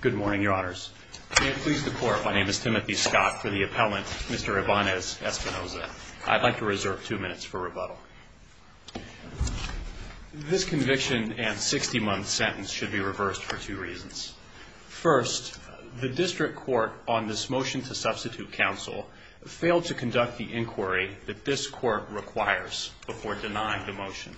Good morning, your honors. May it please the court, my name is Timothy Scott for the appellant, Mr. Ibanez-Espinosa. I'd like to reserve two minutes for rebuttal. This conviction and 60-month sentence should be reversed for two reasons. First, the district court on this motion to substitute counsel failed to conduct the inquiry that this court requires before denying the motion.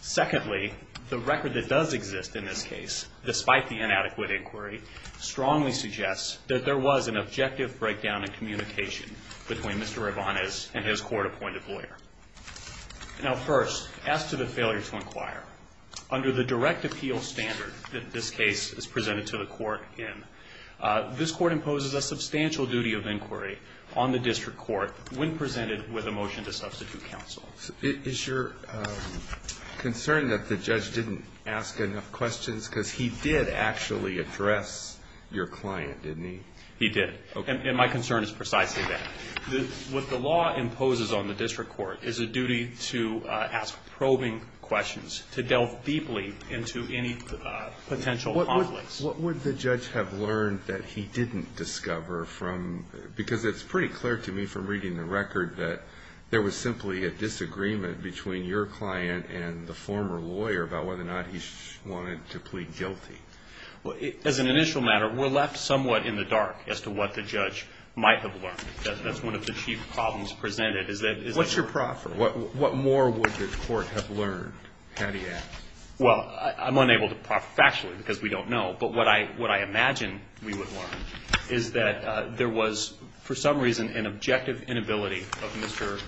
Secondly, the record that does exist in this case, despite the inadequate inquiry, strongly suggests that there was an objective breakdown in communication between Mr. Ibanez and his court-appointed lawyer. Now first, as to the failure to inquire, under the direct appeal standard that this case is presented to the court in, this court imposes a substantial duty of inquiry on the district court when presented with a motion to substitute counsel. So is your concern that the judge didn't ask enough questions? Because he did actually address your client, didn't he? He did. Okay. And my concern is precisely that. What the law imposes on the district court is a duty to ask probing questions, to delve deeply into any potential conflicts. What would the judge have learned that he didn't discover from, because it's pretty clear to me from reading the record that there was simply a disagreement between your client and the former lawyer about whether or not he wanted to plead guilty. As an initial matter, we're left somewhat in the dark as to what the judge might have learned. That's one of the chief problems presented. What's your proffer? What more would the court have learned, had he asked? Well, I'm unable to proffer factually because we don't know. But what I imagine we would learn is that there was, for some reason, an objective inability of Mr.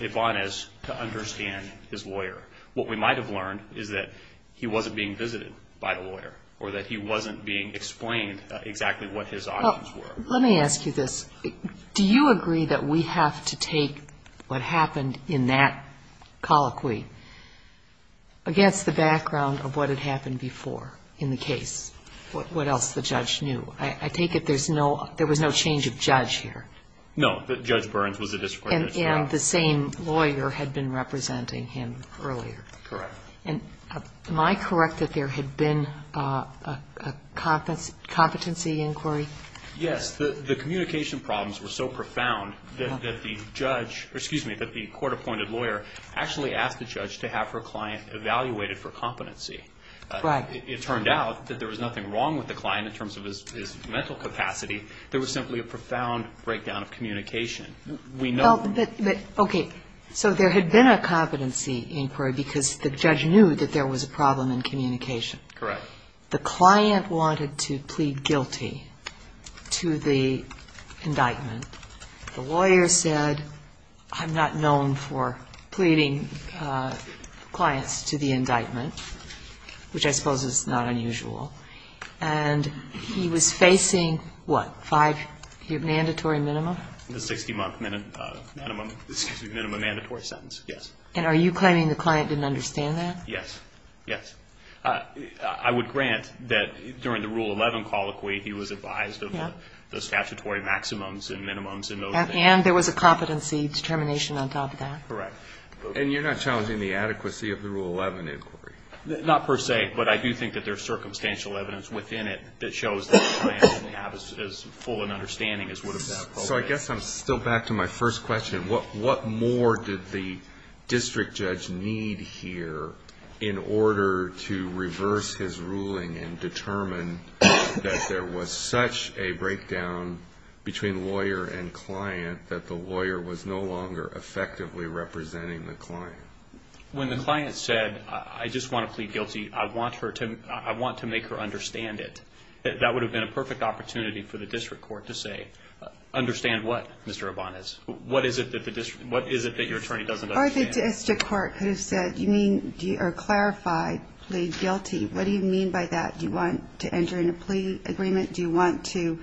Ibanez to understand his lawyer. What we might have learned is that he wasn't being visited by the lawyer or that he wasn't being explained exactly what his options were. Let me ask you this. Do you agree that we have to take what happened in that colloquy against the background of what had happened before in the case? What else the judge knew? I take it there was no change of judge here? No. Judge Burns was the district court judge. And the same lawyer had been representing him earlier. Correct. Am I correct that there had been a competency inquiry? Yes. The communication problems were so profound that the court-appointed lawyer actually asked the judge to have her client evaluated for competency. Right. It turned out that there was nothing wrong with the client in terms of his mental capacity. There was simply a profound breakdown of communication. Okay. So there had been a competency inquiry because the judge knew that there was a problem in communication. Correct. The client wanted to plead guilty to the indictment. The lawyer said, I'm not known for pleading clients to the indictment, which I suppose is not unusual. And he was facing, what, five year mandatory minimum? The 60-month minimum, excuse me, minimum mandatory sentence, yes. And are you claiming the client didn't understand that? Yes. Yes. I would grant that during the Rule 11 colloquy, he was advised of the statutory maximums and minimums and those things. And there was a competency determination on top of that. Correct. And you're not challenging the adequacy of the Rule 11 inquiry? Not per se, but I do think that there's circumstantial evidence within it that shows that the client didn't have as full an understanding as would have been appropriate. So I guess I'm still back to my first question. What more did the district judge need here in order to reverse his ruling and determine that there was such a breakdown between lawyer and client that the lawyer was no longer effectively representing the client? When the client said, I just want to plead guilty, I want to make her understand it, that would have been a perfect opportunity for the district court to say, understand what, Mr. Urbanez? What is it that your attorney doesn't understand? Or the district court could have said, you mean, or clarified, plead guilty. What do you mean by that? Do you want to enter into a plea agreement? Do you want to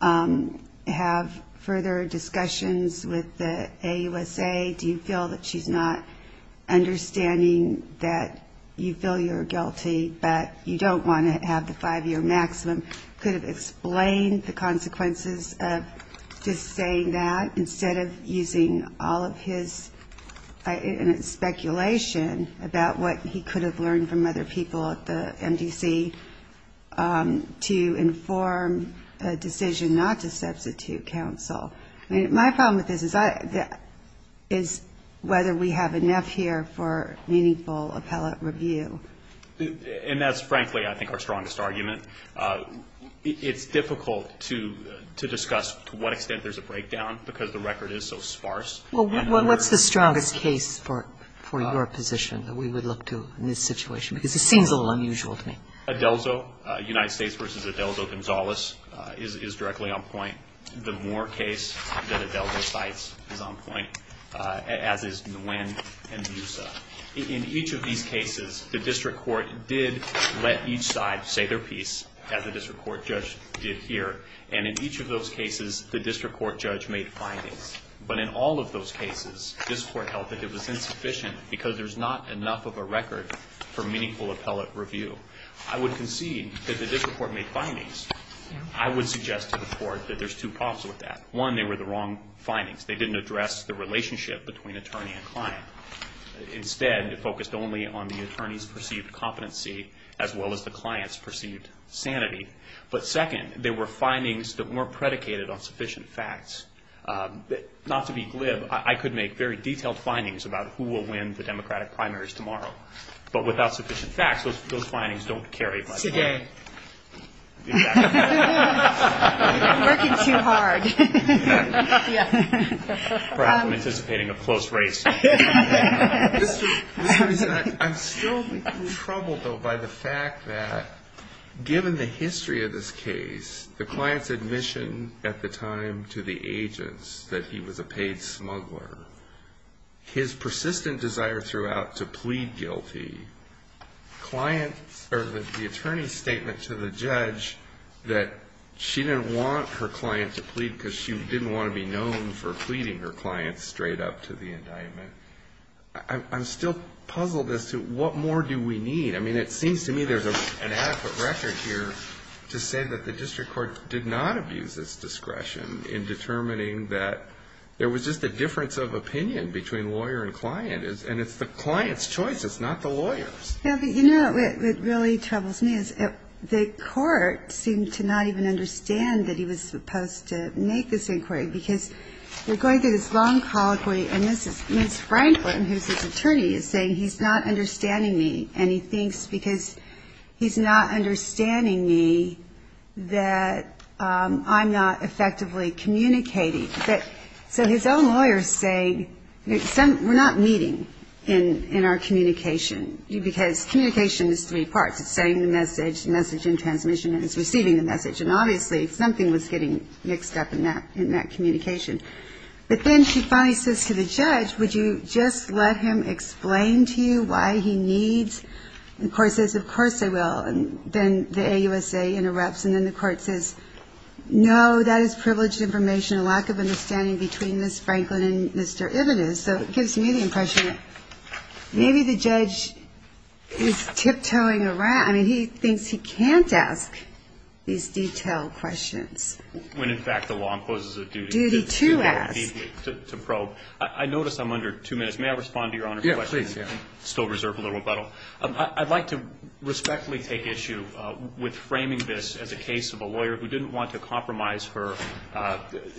have further discussions with the AUSA? Do you feel that she's not understanding that you feel you're guilty, but you don't want to have the five-year maximum? Could have explained the consequences of just saying that instead of using all of his speculation about what he could have learned from other people at the MDC to inform a decision not to substitute counsel. My problem with this is whether we have enough here for meaningful appellate review. And that's, frankly, I think our strongest argument. It's difficult to discuss to what extent there's a breakdown because the record is so sparse. Well, what's the strongest case for your position that we would look to in this situation? Because it seems a little unusual to me. Adelzo, United States v. Adelzo Gonzalez is directly on point. The Moore case that Adelzo cites is on point, as is Nguyen and Musa. In each of these cases, the district court did let each side say their piece, as the district court judge did here. And in each of those cases, the district court judge made findings. But in all of those cases, this court held that it was insufficient because there's not enough of a record for meaningful appellate review. I would concede that the district court made findings. I would suggest to the court that there's two problems with that. One, they were the wrong findings. They didn't address the relationship between attorney and client. Instead, it focused only on the attorney's perceived competency as well as the client's perceived sanity. But second, they were findings that weren't predicated on sufficient facts. Not to be glib, I could make very detailed findings about who will win the Democratic primaries tomorrow. I'm working too hard. Perhaps I'm anticipating a close race. I'm still troubled, though, by the fact that given the history of this case, the client's admission at the time to the agents that he was a paid smuggler, his persistent desire throughout to plead guilty, the attorney's statement to the judge that she didn't want her client to plead because she didn't want to be known for pleading her client straight up to the indictment. I'm still puzzled as to what more do we need. I mean, it seems to me there's an adequate record here to say that the district court did not abuse its discretion in determining that there was just a difference of opinion between lawyer and client, and it's the client's choice, it's not the lawyer's. Yeah, but you know what really troubles me is the court seemed to not even understand that he was supposed to make this inquiry, because we're going through this long colloquy, and Ms. Franklin, who's his attorney, is saying he's not understanding me, and he thinks because he's not understanding me that I'm not effectively communicating. So his own lawyer is saying we're not meeting in our communication, because communication is three parts. It's sending the message, the message in transmission, and it's receiving the message, and obviously something was getting mixed up in that communication. But then she finally says to the judge, would you just let him explain to you why he needs, and the court says, of course I will. And then the AUSA interrupts, and then the court says, no, that is privileged information, a lack of understanding between Ms. Franklin and Mr. Ibenez. So it gives me the impression that maybe the judge is tiptoeing around. I mean, he thinks he can't ask these detailed questions. When, in fact, the law imposes a duty. Duty to ask. To probe. I notice I'm under two minutes. May I respond to Your Honor's question? Yes, please. I still reserve a little rebuttal. I'd like to respectfully take issue with framing this as a case of a lawyer who didn't want to compromise her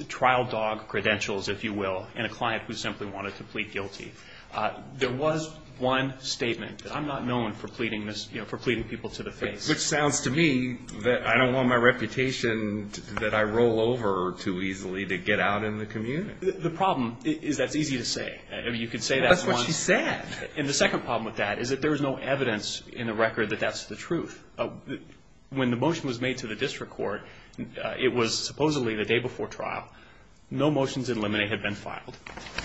trial dog credentials, if you will, and a client who simply wanted to plead guilty. There was one statement. I'm not known for pleading people to the face. Which sounds to me that I don't want my reputation that I roll over too easily to get out in the community. The problem is that it's easy to say. I mean, you could say that once. That's what she said. And the second problem with that is that there is no evidence in the record that that's the truth. When the motion was made to the district court, it was supposedly the day before trial. No motions in limine had been filed.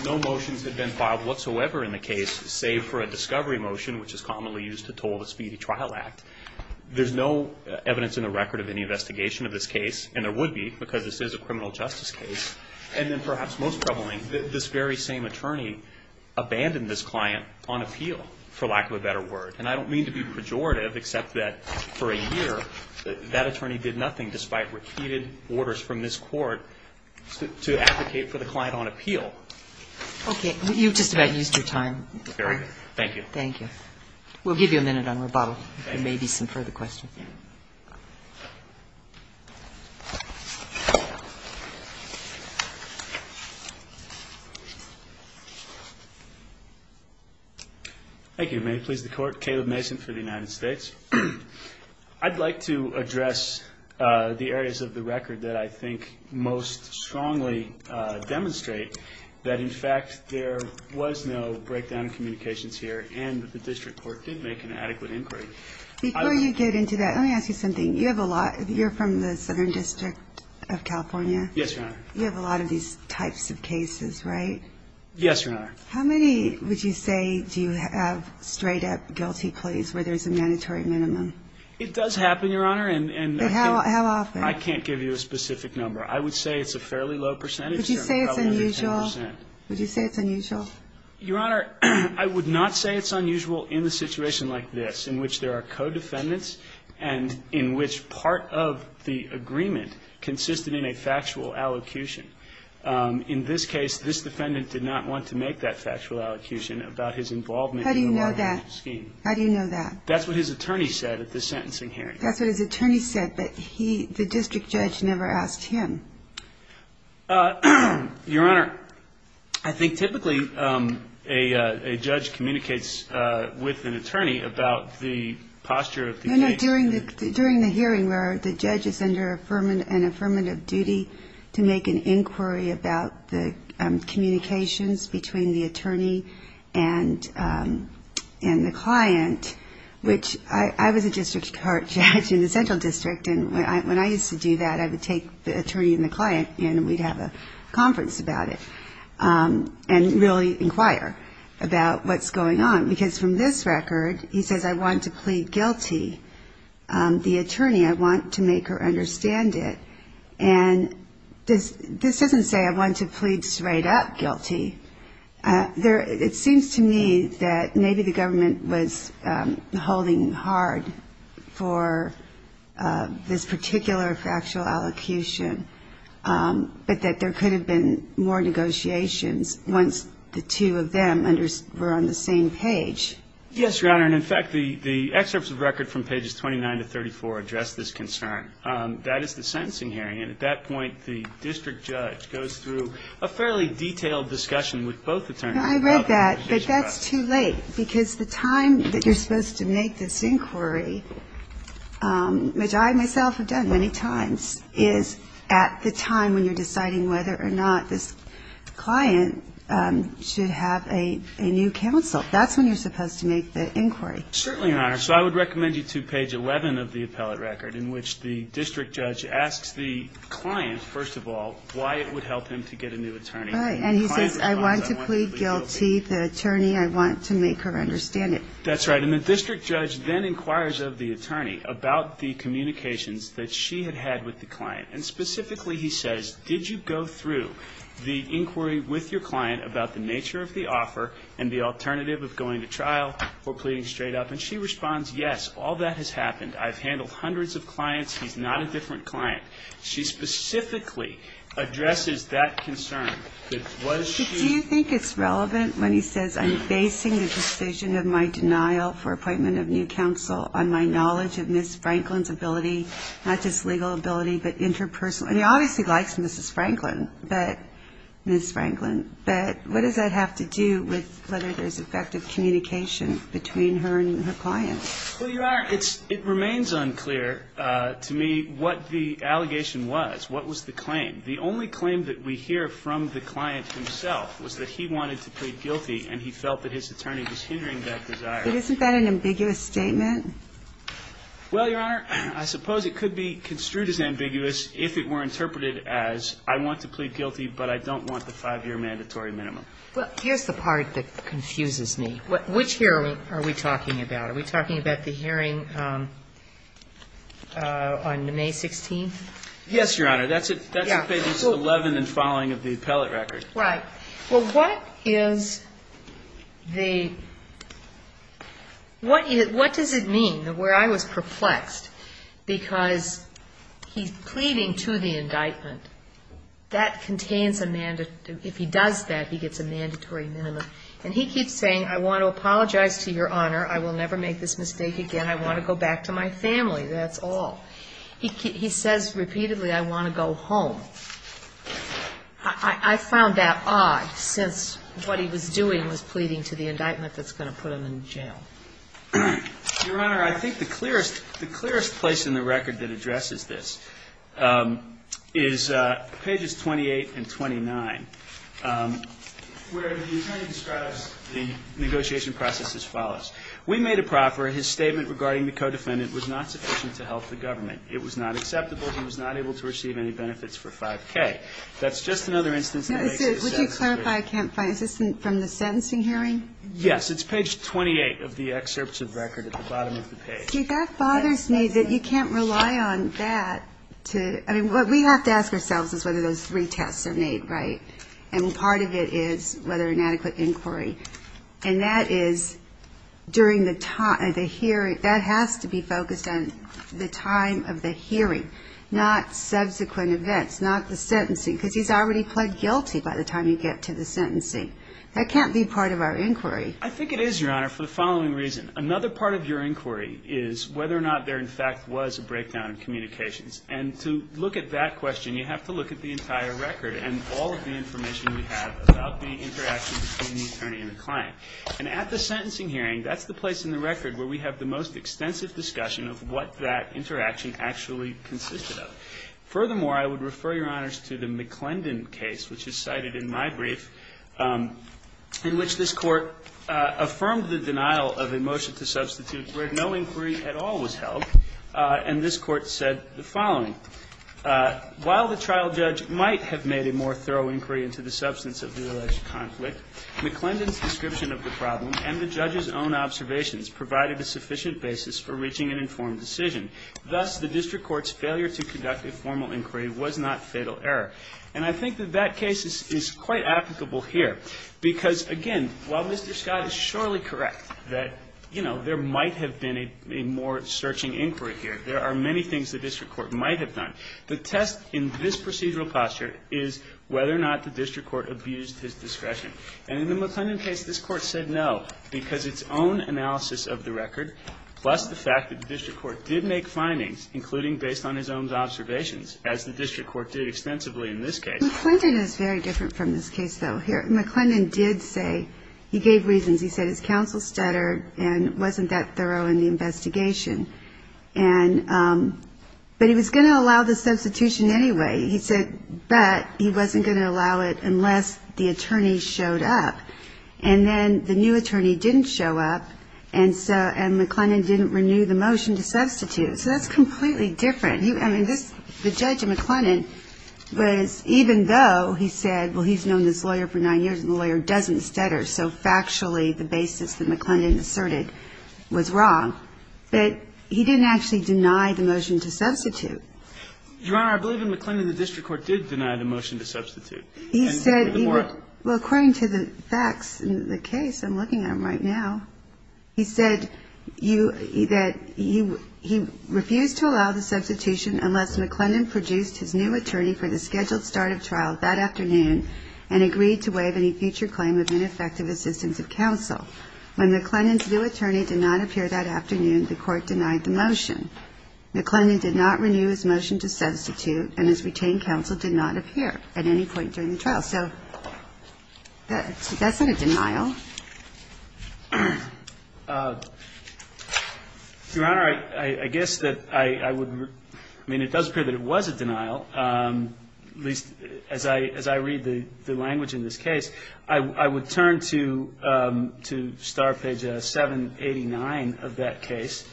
No motions had been filed whatsoever in the case, save for a discovery motion, which is commonly used to toll the speedy trial act. There's no evidence in the record of any investigation of this case, and there would be because this is a criminal justice case. And then perhaps most troubling, this very same attorney abandoned this client on appeal, for lack of a better word. And I don't mean to be pejorative, except that for a year, that attorney did nothing despite repeated orders from this court to advocate for the client on appeal. Okay. You've just about used your time. Very good. Thank you. Thank you. We'll give you a minute on rebuttal. There may be some further questions. Thank you. May it please the Court. Caleb Mason for the United States. I'd like to address the areas of the record that I think most strongly demonstrate that, in fact, there was no breakdown in communications here and that the district court did make an adequate inquiry. Before you get into that, let me ask you something. You have a lot of you're from the Southern District of California. Yes, Your Honor. You have a lot of these types of cases, right? Yes, Your Honor. How many, would you say, do you have straight up guilty pleas where there's a mandatory minimum? It does happen, Your Honor. How often? I can't give you a specific number. I would say it's a fairly low percentage. Would you say it's unusual? Your Honor, I would not say it's unusual in a situation like this, in which there are co-defendants and in which part of the agreement consisted in a factual allocution. In this case, this defendant did not want to make that factual allocution about his involvement in the scheme. How do you know that? That's what his attorney said at the sentencing hearing. That's what his attorney said, but the district judge never asked him. Your Honor, I think typically a judge communicates with an attorney about the posture of the case. No, no. During the hearing where the judge is under an affirmative duty to make an inquiry about the communications between the attorney and the client, which I was a district court judge in the Central District, and when I used to do that, I would take the attorney and the client and we'd have a conference about it and really inquire about what's going on. Because from this record, he says, I want to plead guilty. The attorney, I want to make her understand it. And this doesn't say I want to plead straight up guilty. It seems to me that maybe the government was holding hard for this particular factual allocution, but that there could have been more negotiations once the two of them were on the same page. Yes, Your Honor, and, in fact, the excerpts of record from pages 29 to 34 address this concern. That is the sentencing hearing, and at that point the district judge goes through a fairly detailed discussion with both attorneys. I read that, but that's too late because the time that you're supposed to make this inquiry, which I myself have done many times, is at the time when you're deciding whether or not this client should have a new counsel. That's when you're supposed to make the inquiry. Certainly, Your Honor. So I would recommend you to page 11 of the appellate record, in which the district judge asks the client, first of all, why it would help him to get a new attorney. And he says, I want to plead guilty. The attorney, I want to make her understand it. That's right, and the district judge then inquires of the attorney about the communications that she had had with the client. And specifically he says, did you go through the inquiry with your client about the nature of the offer and the alternative of going to trial or pleading straight up? And she responds, yes, all that has happened. I've handled hundreds of clients. He's not a different client. She specifically addresses that concern that was she ---- But do you think it's relevant when he says, I'm basing the decision of my denial for appointment of new counsel on my knowledge of Ms. Franklin's ability, not just legal ability, but interpersonal. And he obviously likes Mrs. Franklin, but Ms. Franklin. But what does that have to do with whether there's effective communication between her and her client? Well, Your Honor, it remains unclear to me what the allegation was, what was the claim. The only claim that we hear from the client himself was that he wanted to plead guilty and he felt that his attorney was hindering that desire. But isn't that an ambiguous statement? Well, Your Honor, I suppose it could be construed as ambiguous if it were interpreted as, I want to plead guilty, but I don't want the five-year mandatory minimum. Well, here's the part that confuses me. Which hearing are we talking about? Are we talking about the hearing on May 16th? Yes, Your Honor. That's page 11 and following of the appellate record. Right. Well, what is the ñ what does it mean, where I was perplexed, because he's pleading to the indictment. That contains a ñ if he does that, he gets a mandatory minimum. And he keeps saying, I want to apologize to Your Honor. I will never make this mistake again. I want to go back to my family. That's all. He says repeatedly, I want to go home. I found that odd, since what he was doing was pleading to the indictment that's going to put him in jail. Your Honor, I think the clearest place in the record that addresses this is pages 28 and 29, where the attorney describes the negotiation process as follows. We made a proffer. His statement regarding the co-defendant was not sufficient to help the government. It was not acceptable. He was not able to receive any benefits for filing. Okay. That's just another instance that makes sense. Would you clarify, I can't find, is this from the sentencing hearing? Yes. It's page 28 of the excerpts of record at the bottom of the page. See, that bothers me that you can't rely on that to ñ I mean, what we have to ask ourselves is whether those three tests are made right. And part of it is whether inadequate inquiry. And that is during the time of the hearing. That has to be focused on the time of the hearing, not subsequent events, not the sentencing. Because he's already pled guilty by the time you get to the sentencing. That can't be part of our inquiry. I think it is, Your Honor, for the following reason. Another part of your inquiry is whether or not there, in fact, was a breakdown in communications. And to look at that question, you have to look at the entire record and all of the information we have about the interaction between the attorney and the client. And at the sentencing hearing, that's the place in the record where we have the most extensive discussion of what that interaction actually consisted of. Furthermore, I would refer, Your Honors, to the McClendon case, which is cited in my brief, in which this Court affirmed the denial of a motion to substitute where no inquiry at all was held. And this Court said the following. While the trial judge might have made a more thorough inquiry into the substance of the alleged conflict, McClendon's description of the problem and the judge's own observations provided a sufficient basis for reaching an informed decision. Thus, the district court's failure to conduct a formal inquiry was not fatal error. And I think that that case is quite applicable here. Because, again, while Mr. Scott is surely correct that, you know, there might have been a more searching inquiry here, there are many things the district court might have done. The test in this procedural posture is whether or not the district court abused his discretion. And in the McClendon case, this Court said no, because its own analysis of the record, plus the fact that the district court did make findings, including based on his own observations, as the district court did extensively in this case. McClendon is very different from this case, though. Here, McClendon did say he gave reasons. He said his counsel stuttered and wasn't that thorough in the investigation. But he was going to allow the substitution anyway. He said, but he wasn't going to allow it unless the attorney showed up. And then the new attorney didn't show up, and McClendon didn't renew the motion to substitute. So that's completely different. I mean, the judge in McClendon was, even though he said, well, he's known this lawyer for nine years and the lawyer doesn't stutter, so factually the basis that McClendon asserted was wrong, but he didn't actually deny the motion to substitute. Your Honor, I believe in McClendon the district court did deny the motion to substitute. He said he would. Well, according to the facts in the case, I'm looking at them right now, he said that he refused to allow the substitution unless McClendon produced his new attorney for the scheduled start of trial that afternoon and agreed to waive any future claim of ineffective assistance of counsel. When McClendon's new attorney did not appear that afternoon, the Court denied the motion. McClendon did not renew his motion to substitute, and his retained counsel did not appear at any point during the trial. So that's not a denial. Your Honor, I guess that I would, I mean, it does appear that it was a denial, at least as I read the language in this case. I would turn to star page 789 of that case,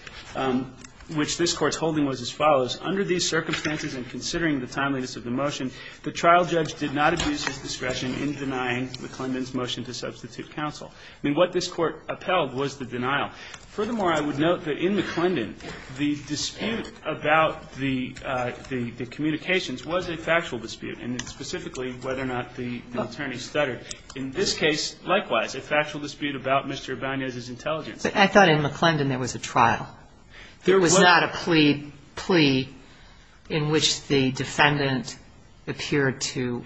which this Court's holding was as follows. Under these circumstances and considering the timeliness of the motion, the trial judge did not abuse his discretion in denying McClendon's motion to substitute counsel. I mean, what this Court upheld was the denial. Furthermore, I would note that in McClendon, the dispute about the communications was a factual dispute, and specifically whether or not the attorney stuttered. In this case, likewise, a factual dispute about Mr. Abanez's intelligence. But I thought in McClendon there was a trial. There was not a plea in which the defendant appeared to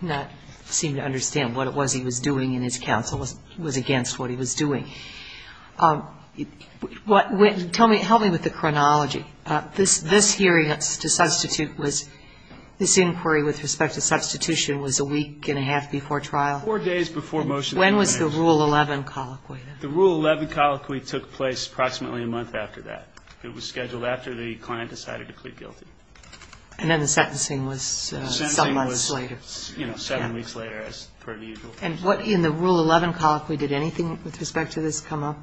not seem to understand what it was he was doing, and his counsel was against what he was doing. Tell me, help me with the chronology. This hearing to substitute was, this inquiry with respect to substitution was a week and a half before trial? Four days before motion. When was the Rule 11 colloquy? The Rule 11 colloquy took place approximately a month after that. It was scheduled after the client decided to plead guilty. And then the sentencing was some months later. The sentencing was, you know, seven weeks later, as per the usual. And what in the Rule 11 colloquy, did anything with respect to this come up?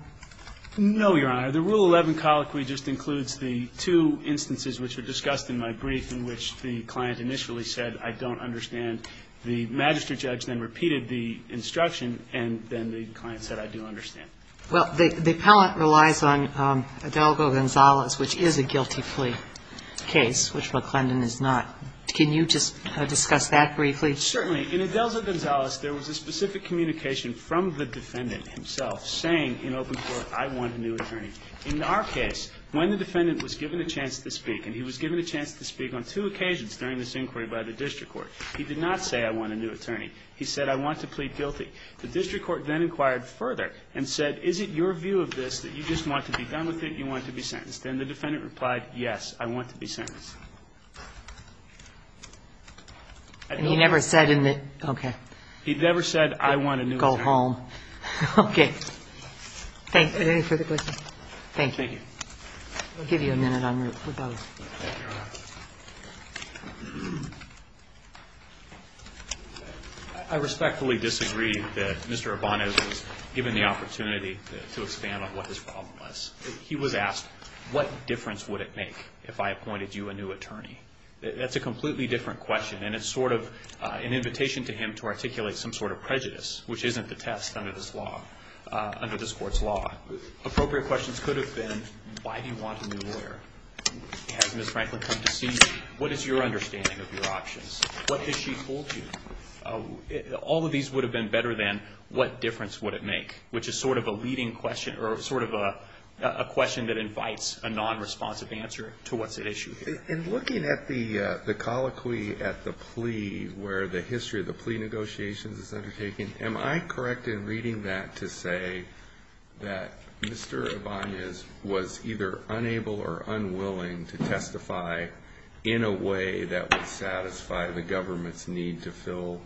No, Your Honor. The Rule 11 colloquy just includes the two instances which were discussed in my brief in which the client initially said, I don't understand. The magistrate judge then repeated the instruction, and then the client said, I do understand. Well, the appellant relies on Adelgo-Gonzalez, which is a guilty plea case, which McClendon is not. Can you just discuss that briefly? Certainly. In Adelgo-Gonzalez, there was a specific communication from the defendant himself saying in open court, I want a new attorney. In our case, when the defendant was given a chance to speak, and he was given a chance to speak on two occasions during this inquiry by the district court, he did not say, I want a new attorney. He said, I want to plead guilty. The district court then inquired further and said, is it your view of this that you just want to be done with it, you want to be sentenced? Then the defendant replied, yes, I want to be sentenced. And he never said in the – okay. He never said, I want a new attorney. Go home. Okay. Thanks. Anything further questions? Thank you. Thank you. I'll give you a minute en route for both. Thank you, Your Honor. I respectfully disagree that Mr. Urbano was given the opportunity to expand on what his problem was. He was asked, what difference would it make if I appointed you a new attorney? That's a completely different question, and it's sort of an invitation to him to articulate some sort of prejudice, which isn't the test under this law, under this Court's Appropriate questions could have been, why do you want a new lawyer? Has Ms. Franklin come to see you? What is your understanding of your options? What has she told you? All of these would have been better than, what difference would it make, which is sort of a leading question or sort of a question that invites a non-responsive answer to what's at issue here. In looking at the colloquy at the plea where the history of the plea negotiations is undertaken, am I correct in reading that to say that Mr. Urbano was either unable or unwilling to testify in a way that would satisfy the government's need to fill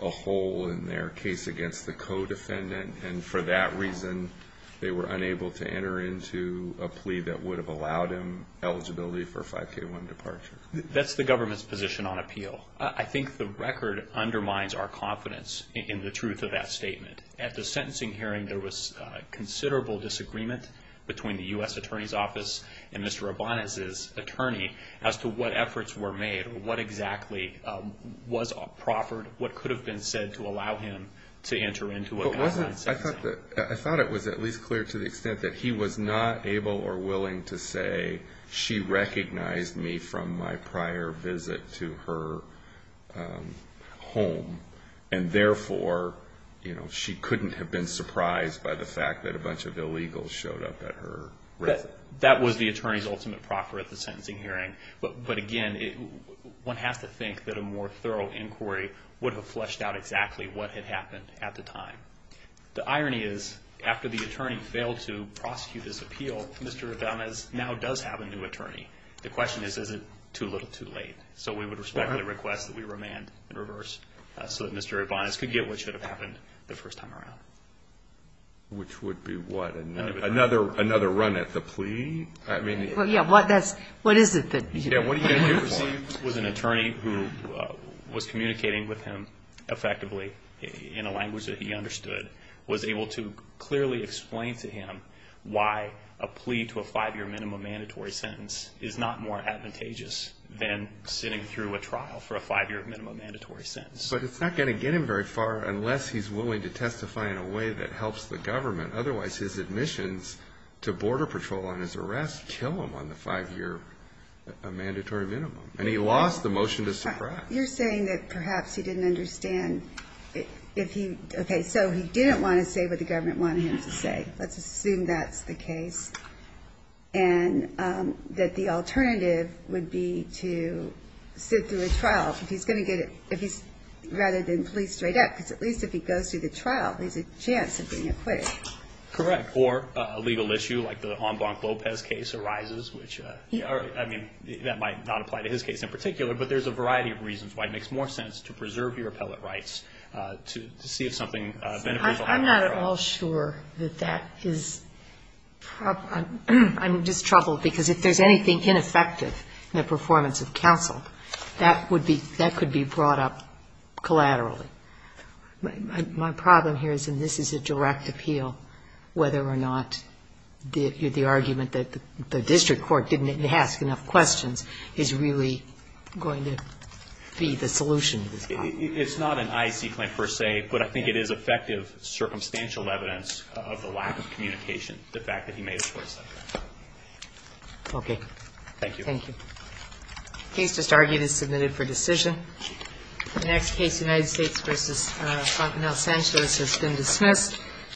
a hole in their case against the co-defendant, and for that reason, they were unable to enter into a plea that would have allowed him eligibility for a 5K1 departure? That's the government's position on appeal. Well, I think the record undermines our confidence in the truth of that statement. At the sentencing hearing, there was considerable disagreement between the U.S. Attorney's Office and Mr. Urbano's attorney as to what efforts were made or what exactly was proffered, what could have been said to allow him to enter into a plea. I thought it was at least clear to the extent that he was not able or willing to say, she recognized me from my prior visit to her home, and therefore, she couldn't have been surprised by the fact that a bunch of illegals showed up at her residence. That was the attorney's ultimate proffer at the sentencing hearing, but again, one has to think that a more thorough inquiry would have fleshed out exactly what had happened at the time. The irony is, after the attorney failed to prosecute his appeal, Mr. Urbano now does have a new attorney. The question is, is it too little too late? So, we would respectfully request that we remand in reverse so that Mr. Urbano could get what should have happened the first time around. Which would be what? Another run at the plea? I mean... Yeah, what is it that... Yeah, what are you going to do? He was an attorney who was communicating with him effectively in a language that he understood, was able to clearly explain to him why a plea to a five-year minimum mandatory sentence is not more advantageous than sitting through a trial for a five-year minimum mandatory sentence. But it's not going to get him very far unless he's willing to testify in a way that helps the government. Otherwise, his admissions to Border Patrol on his arrest kill him on the five-year mandatory minimum, and he lost the motion to suppress. You're saying that perhaps he didn't understand... If he... Okay, so he didn't want to say what the government wanted him to say. Let's assume that's the case. And that the alternative would be to sit through a trial. If he's going to get... If he's... Rather than plea straight up, because at least if he goes through the trial, there's a chance of being acquitted. Correct. Or a legal issue like the En Blanc Lopez case arises, which... I mean, that might not apply to his case in particular, but there's a variety of reasons why it makes more sense to preserve your appellate rights to see if something beneficial happens. I'm not at all sure that that is proper. I'm just troubled because if there's anything ineffective in the performance of counsel, that would be, that could be brought up collaterally. My problem here is, and this is a direct appeal, whether or not the argument that the district court didn't ask enough questions is really going to be the solution to this problem. It's not an IEC claim per se, but I think it is effective circumstantial evidence of the lack of communication, the fact that he made a choice like that. Okay. Thank you. Thank you. The case just argued is submitted for decision. The next case, United States v. Fontenelle, Sanchez, has been dismissed.